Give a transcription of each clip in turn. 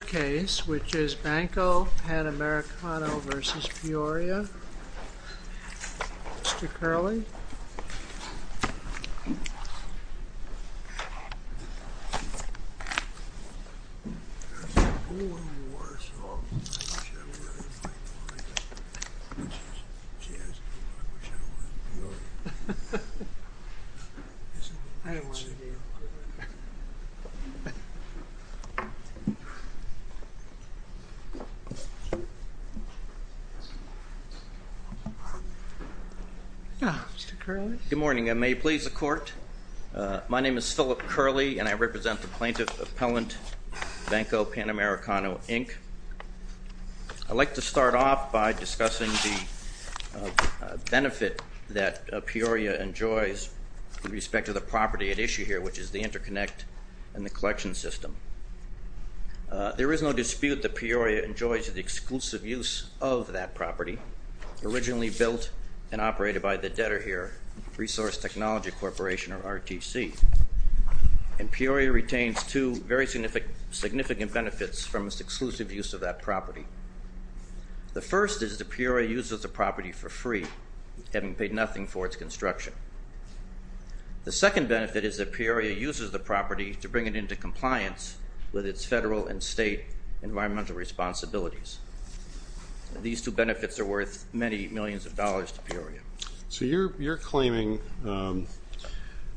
case which is Banco Panamericano v. Peoria. Mr. Curley. Good morning. I may please the court. My name is Phillip Curley, and I represent the plaintiff, Appellant Banco Panamericano, Inc. I'd like to start off by discussing the benefit that Peoria enjoys with respect to the property at issue here, which is the interconnect and the collection system. There is no dispute that Peoria enjoys the exclusive use of that property, originally built and operated by the Detterher Resource Technology Corporation, or RTC. And Peoria retains two very significant benefits from its exclusive use of that property. The first is that Peoria uses the property for free, having paid nothing for its construction. The second benefit is that Peoria uses the property to bring it into compliance with its federal and state environmental responsibilities. These two benefits are worth many millions of dollars to Peoria. So you're claiming,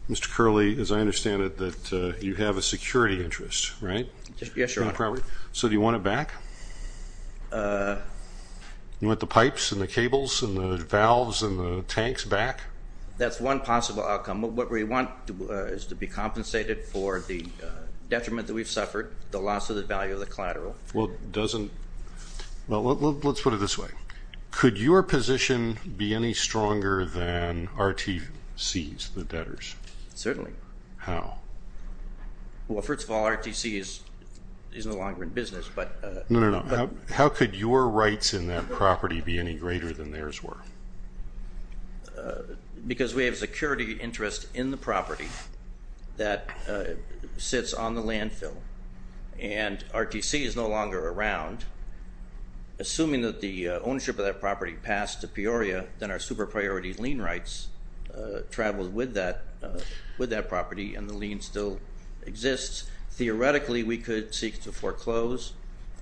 Mr. Curley, as I understand it, that you have a security interest, right? Yes, Your Honor. So do you want it back? You want the pipes and the cables and the valves and the tanks back? That's one possible outcome. What we want is to be compensated for the detriment that we've suffered, the loss of the value of the collateral. Well, let's put it this way. Could your position be any stronger than RTC's, the Detter's? Certainly. How? Well, first of all, RTC is no longer in business. No, no, no. How could your rights in that property be any greater than theirs were? Because we have a security interest in the property that sits on the landfill. And RTC is no longer around. Assuming that the ownership of that property passed to Peoria, then our super-priority lien rights travel with that property and the lien still exists. Theoretically, we could seek to foreclose.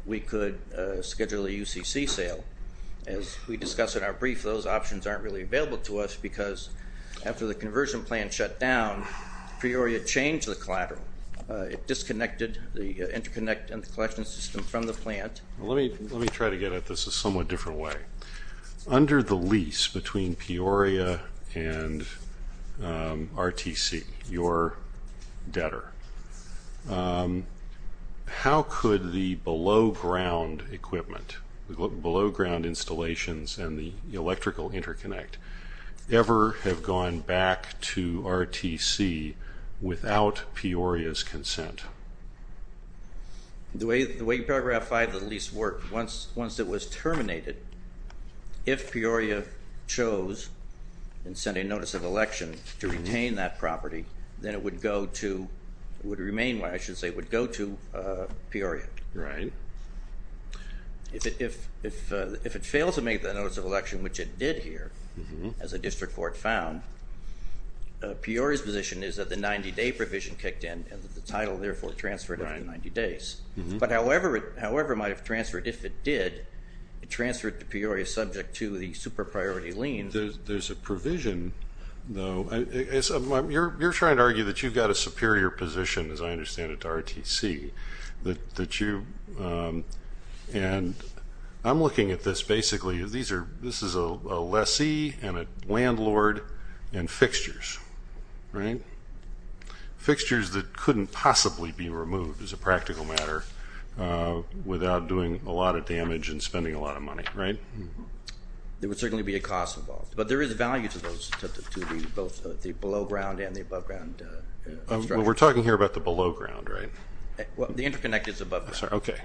We could schedule a UCC sale. As we discussed in our brief, those options aren't really available to us because after the conversion plan shut down, Peoria changed the collateral. It disconnected the interconnect and the collection system from the plant. Let me try to get at this a somewhat different way. Under the lease between Peoria and RTC, your Detter, how could the below-ground equipment, the below-ground installations and the electrical interconnect ever have gone back to RTC without Peoria's consent? The way Paragraph 5 of the lease worked, once it was terminated, if Peoria chose and sent a notice of election to retain that property, then it would go to, it would remain, I should say, it would go to Peoria. Right. If it fails to make the notice of election, which it did here, as a district court found, Peoria's position is that the 90-day provision kicked in and the title therefore transferred over 90 days. But however it might have transferred, if it did, it transferred to Peoria subject to the super-priority lien. There's a provision, though. You're trying to argue that you've got a superior position, as I understand it, to RTC, that you, and I'm looking at this basically as these are, this is a lessee and a landlord and fixtures, right? Fixtures that couldn't possibly be removed as a practical matter without doing a lot of damage and spending a lot of money, right? There would certainly be a cost involved. But there is value to those, to both the below-ground and the above-ground structure. We're talking here about the below-ground, right? The interconnected is above-ground. Okay.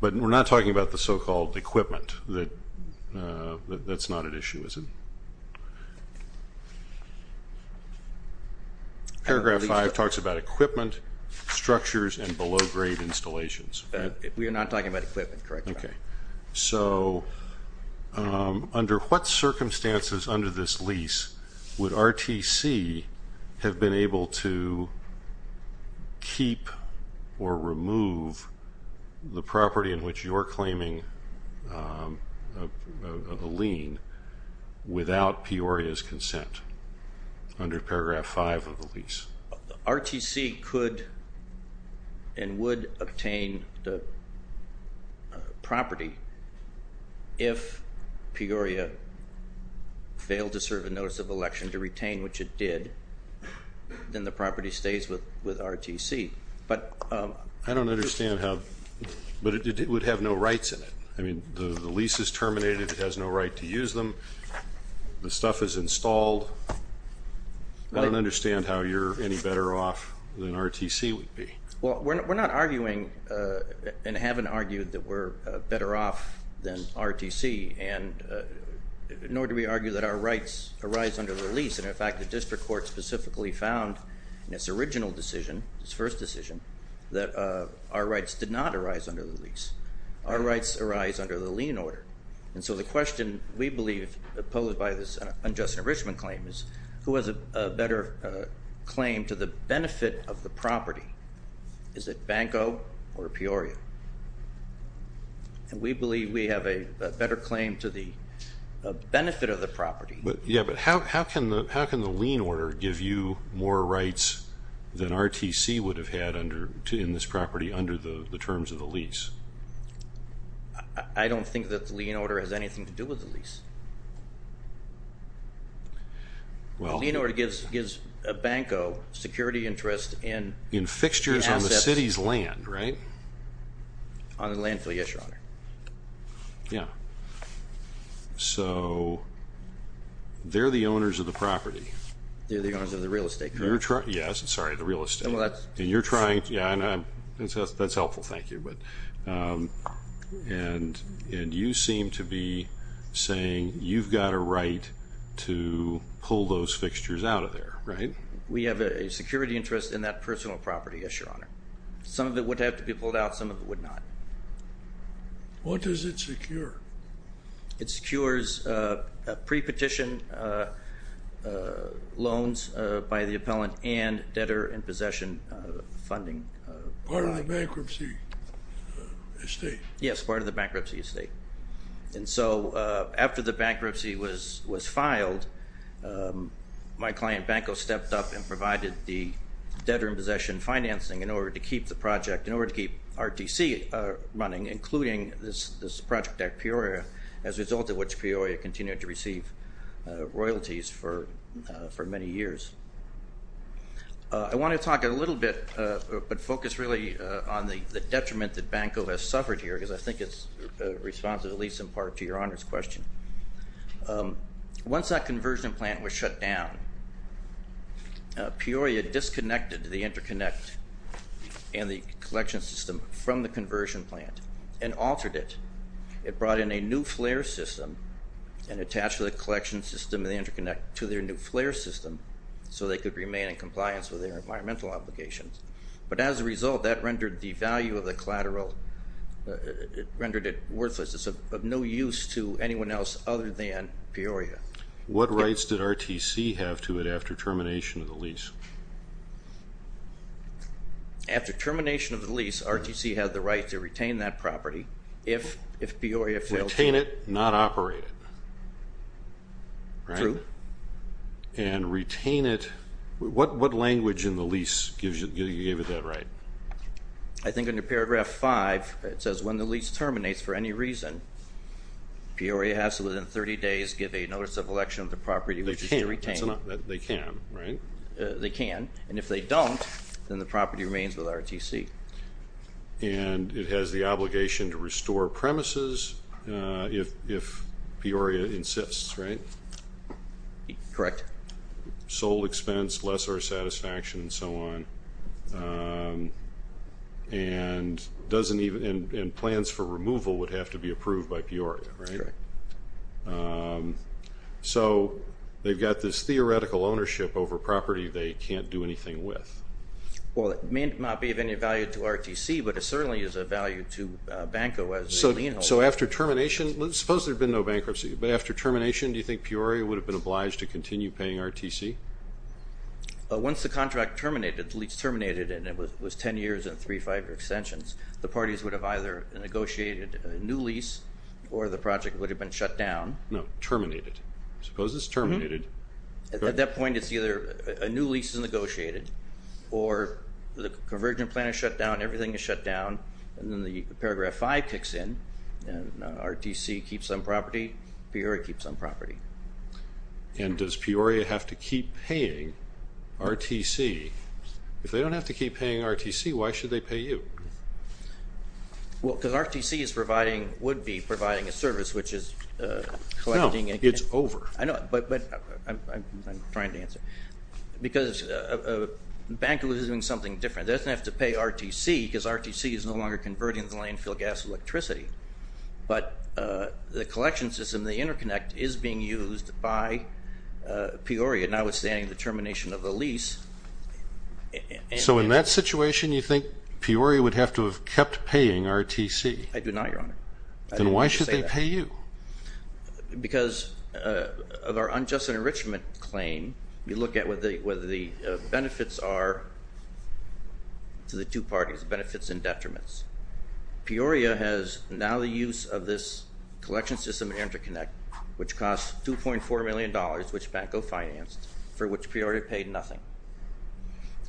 But we're not talking about the so-called equipment. That's not an issue, is it? Paragraph 5 talks about equipment, structures, and below-grade installations. We are not talking about equipment, correct? Okay. So under what circumstances under this lease would RTC have been able to keep or remove the property in which you're claiming a lien without Peoria's consent under paragraph 5 of the lease? RTC could and would obtain the property if Peoria failed to serve a notice of election to retain, which it did. Then the property stays with RTC. I don't understand how, but it would have no rights in it. I mean, the lease is terminated. It has no right to use them. The stuff is installed. I don't understand how you're any better off than RTC would be. Well, we're not arguing and haven't argued that we're better off than RTC, nor do we argue that our rights arise under the lease. And, in fact, the district court specifically found in its original decision, its first decision, that our rights did not arise under the lease. Our rights arise under the lien order. And so the question we believe posed by this unjust enrichment claim is who has a better claim to the benefit of the property? Is it Banco or Peoria? And we believe we have a better claim to the benefit of the property. Yeah, but how can the lien order give you more rights than RTC would have had in this property under the terms of the lease? I don't think that the lien order has anything to do with the lease. Well, the lien order gives Banco security interest in the assets. In fixtures on the city's land, right? On the landfill, yes, Your Honor. Yeah. So they're the owners of the property. They're the owners of the real estate, correct? Yes, sorry, the real estate. Well, that's. That's helpful. Thank you. And you seem to be saying you've got a right to pull those fixtures out of there, right? We have a security interest in that personal property, yes, Your Honor. Some of it would have to be pulled out. Some of it would not. What does it secure? It secures pre-petition loans by the appellant and debtor in possession funding. Part of the bankruptcy estate. Yes, part of the bankruptcy estate. And so after the bankruptcy was filed, my client Banco stepped up and provided the debtor in possession financing in order to keep the project, in order to keep RTC running, including this project at Peoria, as a result of which Peoria continued to receive royalties for many years. I want to talk a little bit, but focus really on the detriment that Banco has suffered here because I think it's responsive, at least in part, to Your Honor's question. Once that conversion plant was shut down, Peoria disconnected the interconnect and the collection system from the conversion plant and altered it. It brought in a new flare system and attached the collection system and the interconnect to their new flare system so they could remain in compliance with their environmental obligations. But as a result, that rendered the value of the collateral, rendered it worthless. It's of no use to anyone else other than Peoria. What rights did RTC have to it after termination of the lease? After termination of the lease, RTC had the right to retain that property if Peoria failed to... Retain it, not operate it. True. And retain it. What language in the lease gave it that right? I think in paragraph five it says when the lease terminates for any reason, Peoria has to within 30 days give a notice of election of the property which they retain. They can, right? They can. And if they don't, then the property remains with RTC. And it has the obligation to restore premises if Peoria insists, right? Correct. Sole expense, lessor satisfaction, and so on. And plans for removal would have to be approved by Peoria, right? Correct. So they've got this theoretical ownership over property they can't do anything with. Well, it may not be of any value to RTC, but it certainly is of value to Banco as a lien holder. So after termination, suppose there had been no bankruptcy, but after termination, do you think Peoria would have been obliged to continue paying RTC? Once the contract terminated, the lease terminated and it was ten years and three or five extensions, the parties would have either negotiated a new lease or the project would have been shut down. No, terminated. Suppose it's terminated. At that point, it's either a new lease is negotiated or the conversion plan is shut down, everything is shut down, and then the Paragraph 5 kicks in, and RTC keeps on property, Peoria keeps on property. And does Peoria have to keep paying RTC? If they don't have to keep paying RTC, why should they pay you? Well, because RTC is providing, would be providing a service, which is collecting. No, it's over. I know, but I'm trying to answer. Because Banco is doing something different. It doesn't have to pay RTC because RTC is no longer converting the landfill gas electricity. But the collection system, the interconnect, is being used by Peoria, notwithstanding the termination of the lease. So in that situation, you think Peoria would have to have kept paying RTC? I do not, Your Honor. Then why should they pay you? Because of our unjust enrichment claim, we look at what the benefits are to the two parties, benefits and detriments. Peoria has now the use of this collection system and interconnect, which costs $2.4 million, which Banco financed, for which Peoria paid nothing.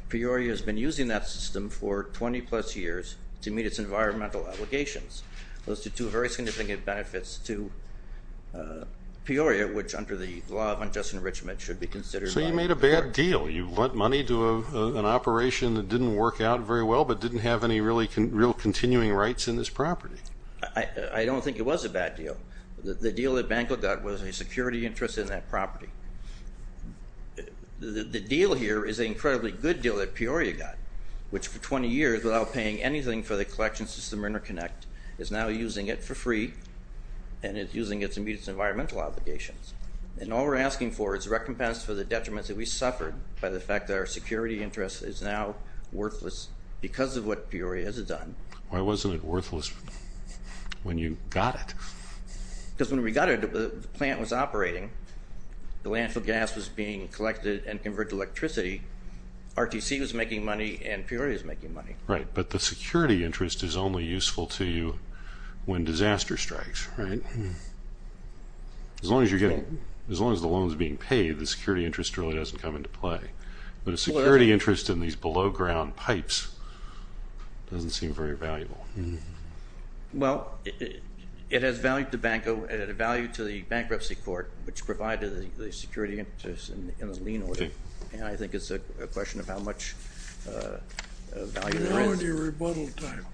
Peoria has been using that system for 20-plus years to meet its environmental obligations. Those are two very significant benefits to Peoria, which under the law of unjust enrichment should be considered. So you made a bad deal. You lent money to an operation that didn't work out very well but didn't have any real continuing rights in this property. I don't think it was a bad deal. The deal that Banco got was a security interest in that property. The deal here is an incredibly good deal that Peoria got, which for 20 years, without paying anything for the collection system or interconnect, is now using it for free and is using it to meet its environmental obligations. And all we're asking for is recompense for the detriments that we suffered by the fact that our security interest is now worthless because of what Peoria has done. Why wasn't it worthless when you got it? Because when we got it, the plant was operating. The landfill gas was being collected and converted to electricity. RTC was making money and Peoria is making money. Right, but the security interest is only useful to you when disaster strikes, right? As long as the loan is being paid, the security interest really doesn't come into play. But a security interest in these below-ground pipes doesn't seem very valuable. Well, it has value to Banco. It had value to the bankruptcy court, which provided the security interest in the lien order. And I think it's a question of how much value there is. You're now on your rebuttal time.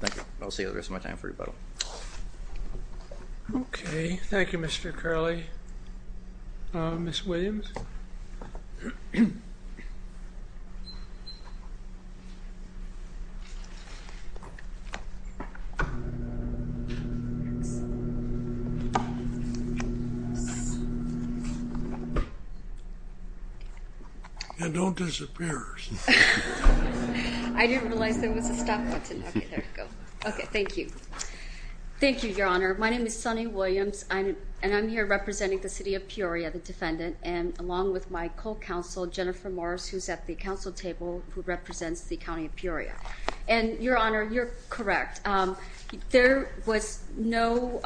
Thank you. I'll see you the rest of my time for rebuttal. Okay. Thank you, Mr. Curley. Ms. Williams? Thanks. And don't disappear. I didn't realize there was a stop button. Okay, there we go. Okay, thank you. Thank you, Your Honor. My name is Sunny Williams, and I'm here representing the city of Peoria, the defendant, and along with my co-counsel, Jennifer Morris, who's at the council table, who represents the county of Peoria. And, Your Honor, you're correct. There was no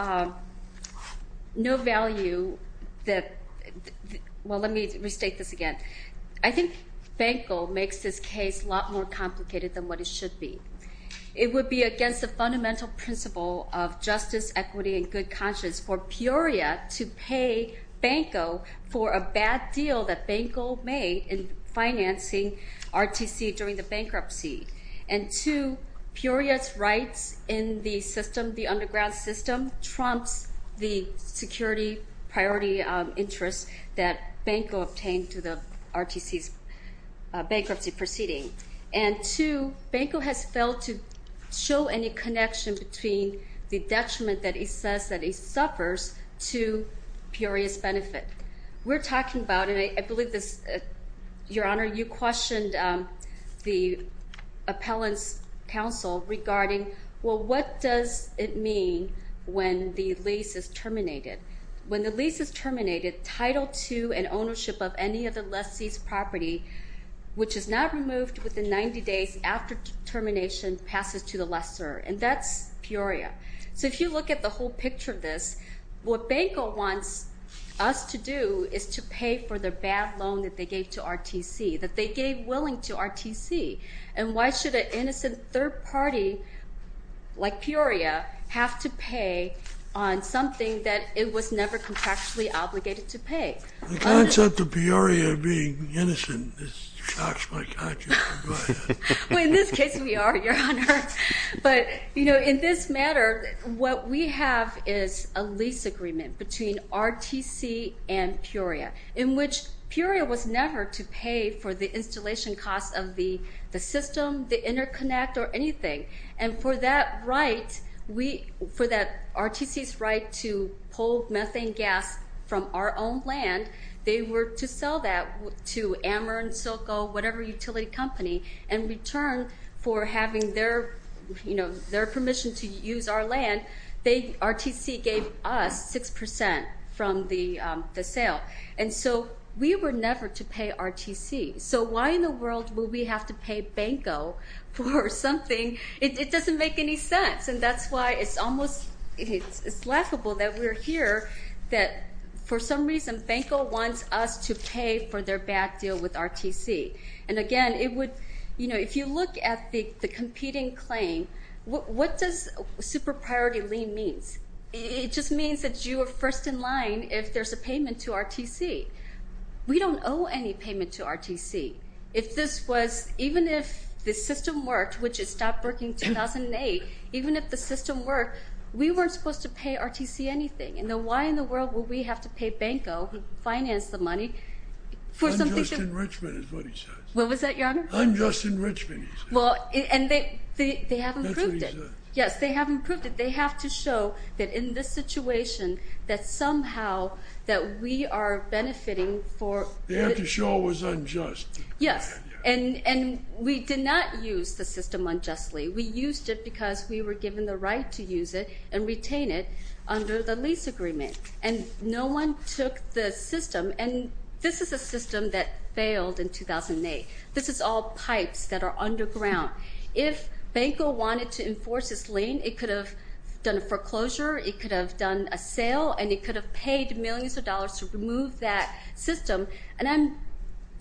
value that – well, let me restate this again. I think Banco makes this case a lot more complicated than what it should be. It would be against the fundamental principle of justice, equity, and good conscience for Peoria to pay Banco for a bad deal that Banco made in financing RTC during the bankruptcy. And two, Peoria's rights in the system, the underground system, trumps the security priority interests that Banco obtained through the RTC's bankruptcy proceeding. And two, Banco has failed to show any connection between the detriment that he says that he suffers to Peoria's benefit. We're talking about, and I believe this – Your Honor, you questioned the appellant's counsel regarding, well, what does it mean when the lease is terminated? When the lease is terminated, Title II and ownership of any of the lessee's property, which is not removed within 90 days after termination, passes to the lessee. And that's Peoria. So if you look at the whole picture of this, what Banco wants us to do is to pay for their bad loan that they gave to RTC, that they gave willing to RTC. And why should an innocent third party like Peoria have to pay on something that it was never contractually obligated to pay? The concept of Peoria being innocent shocks my conscience. In this case, we are, Your Honor. But, you know, in this matter, what we have is a lease agreement between RTC and Peoria, in which Peoria was never to pay for the installation costs of the system, the interconnect, or anything. And for that right, for RTC's right to pull methane gas from our own land, they were to sell that to Amer and SoCo, whatever utility company, and in return for having their permission to use our land, RTC gave us 6% from the sale. And so we were never to pay RTC. So why in the world would we have to pay Banco for something? It doesn't make any sense. And that's why it's almost laughable that we're here, that for some reason Banco wants us to pay for their bad deal with RTC. And, again, it would, you know, if you look at the competing claim, what does super priority lien means? It just means that you are first in line if there's a payment to RTC. We don't owe any payment to RTC. If this was, even if the system worked, which it stopped working in 2008, even if the system worked, we weren't supposed to pay RTC anything. And then why in the world would we have to pay Banco, who financed the money, for something? Unjust enrichment is what he says. What was that, Your Honor? Unjust enrichment, he says. Well, and they have improved it. That's what he says. Yes, they have improved it. They have to show that in this situation that somehow that we are benefiting for... They have to show it was unjust. Yes. And we did not use the system unjustly. We used it because we were given the right to use it and retain it under the lease agreement. And no one took the system. And this is a system that failed in 2008. This is all pipes that are underground. If Banco wanted to enforce this lien, it could have done a foreclosure, it could have done a sale, and it could have paid millions of dollars to remove that system. And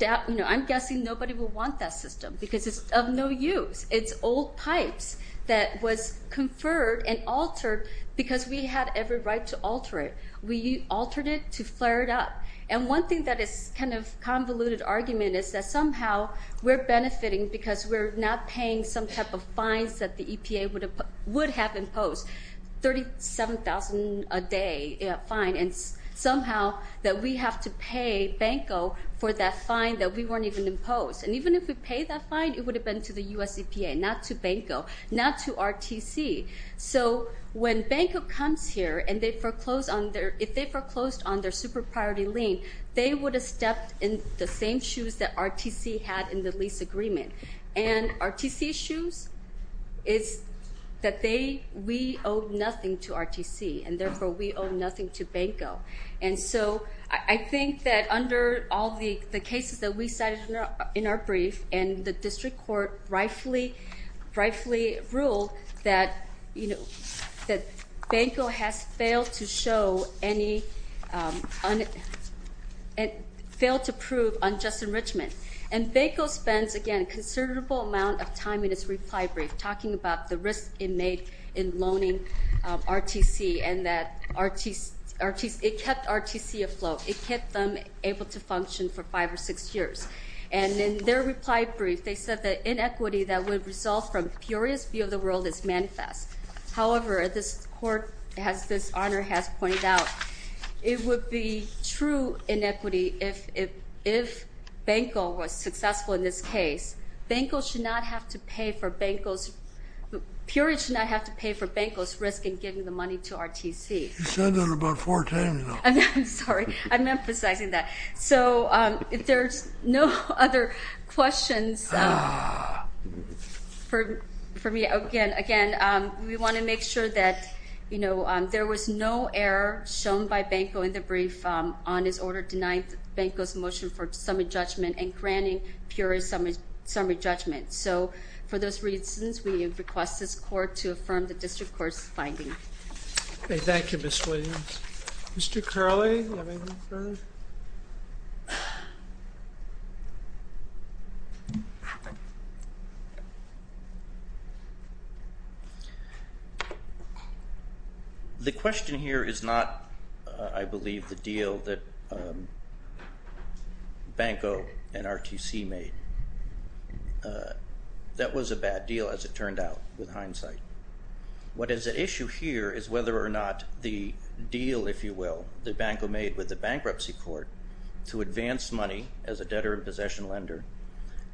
I'm guessing nobody would want that system because it's of no use. It's old pipes that was conferred and altered because we had every right to alter it. We altered it to flare it up. And one thing that is kind of convoluted argument is that somehow we're benefiting because we're not paying some type of fines that the EPA would have imposed, 37,000 a day fine, and somehow that we have to pay Banco for that fine that we weren't even imposed. And even if we paid that fine, it would have been to the U.S. EPA, not to Banco, not to RTC. So when Banco comes here and if they foreclosed on their super priority lien, they would have stepped in the same shoes that RTC had in the lease agreement. And RTC's shoes is that we owe nothing to RTC, and therefore we owe nothing to Banco. And so I think that under all the cases that we cited in our brief, and the district court rightfully ruled that Banco has failed to prove unjust enrichment. And Banco spends, again, a considerable amount of time in its reply brief talking about the risk it made in loaning RTC and that it kept RTC afloat. It kept them able to function for five or six years. And in their reply brief, they said that inequity that would result from Peoria's view of the world is manifest. However, this court, as this honor has pointed out, it would be true inequity if Banco was successful in this case. Banco should not have to pay for Banco's risk in giving the money to RTC. You said that about four times now. I'm sorry. I'm emphasizing that. So if there's no other questions for me, again, we want to make sure that there was no error shown by Banco in the brief on his order denying Banco's motion for summary judgment and granting Peoria's summary judgment. So for those reasons, we request this court to affirm the district court's finding. Thank you, Ms. Williams. Mr. Curley, do you have anything further? The question here is not, I believe, the deal that Banco and RTC made. That was a bad deal, as it turned out, with hindsight. What is at issue here is whether or not the deal, if you will, that Banco made with the bankruptcy court to advance money as a debtor and possession lender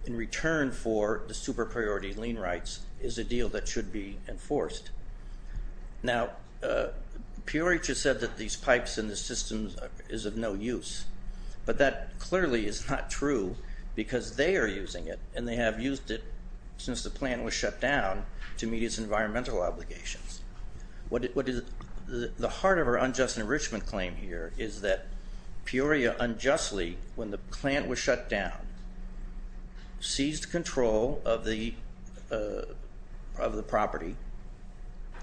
in return for the super priority lien rights is a deal that should be enforced. Now, Peoria just said that these pipes in the system is of no use, but that clearly is not true because they are using it, and they have used it since the plant was shut down to meet its environmental obligations. The heart of our unjust enrichment claim here is that Peoria unjustly, when the plant was shut down, seized control of the property,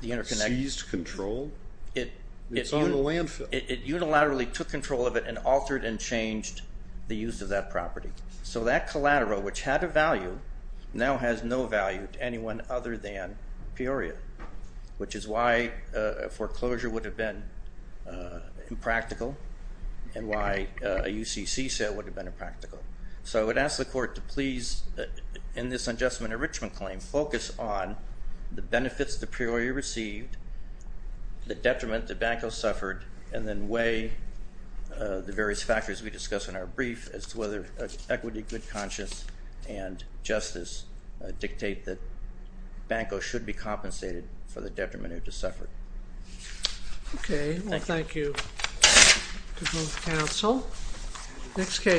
the interconnection. Seized control? It's on the landfill. It unilaterally took control of it and altered and changed the use of that property. So that collateral, which had a value, now has no value to anyone other than Peoria, which is why a foreclosure would have been impractical and why a UCC sale would have been impractical. So I would ask the court to please, in this unjust enrichment claim, focus on the benefits that Peoria received, the detriment that Banco suffered, and then weigh the various factors we discussed in our brief as to whether equity, good conscience, and justice dictate that Banco should be compensated for the detriment it has suffered. Okay. Thank you. Well, thank you to both counsel. Next case.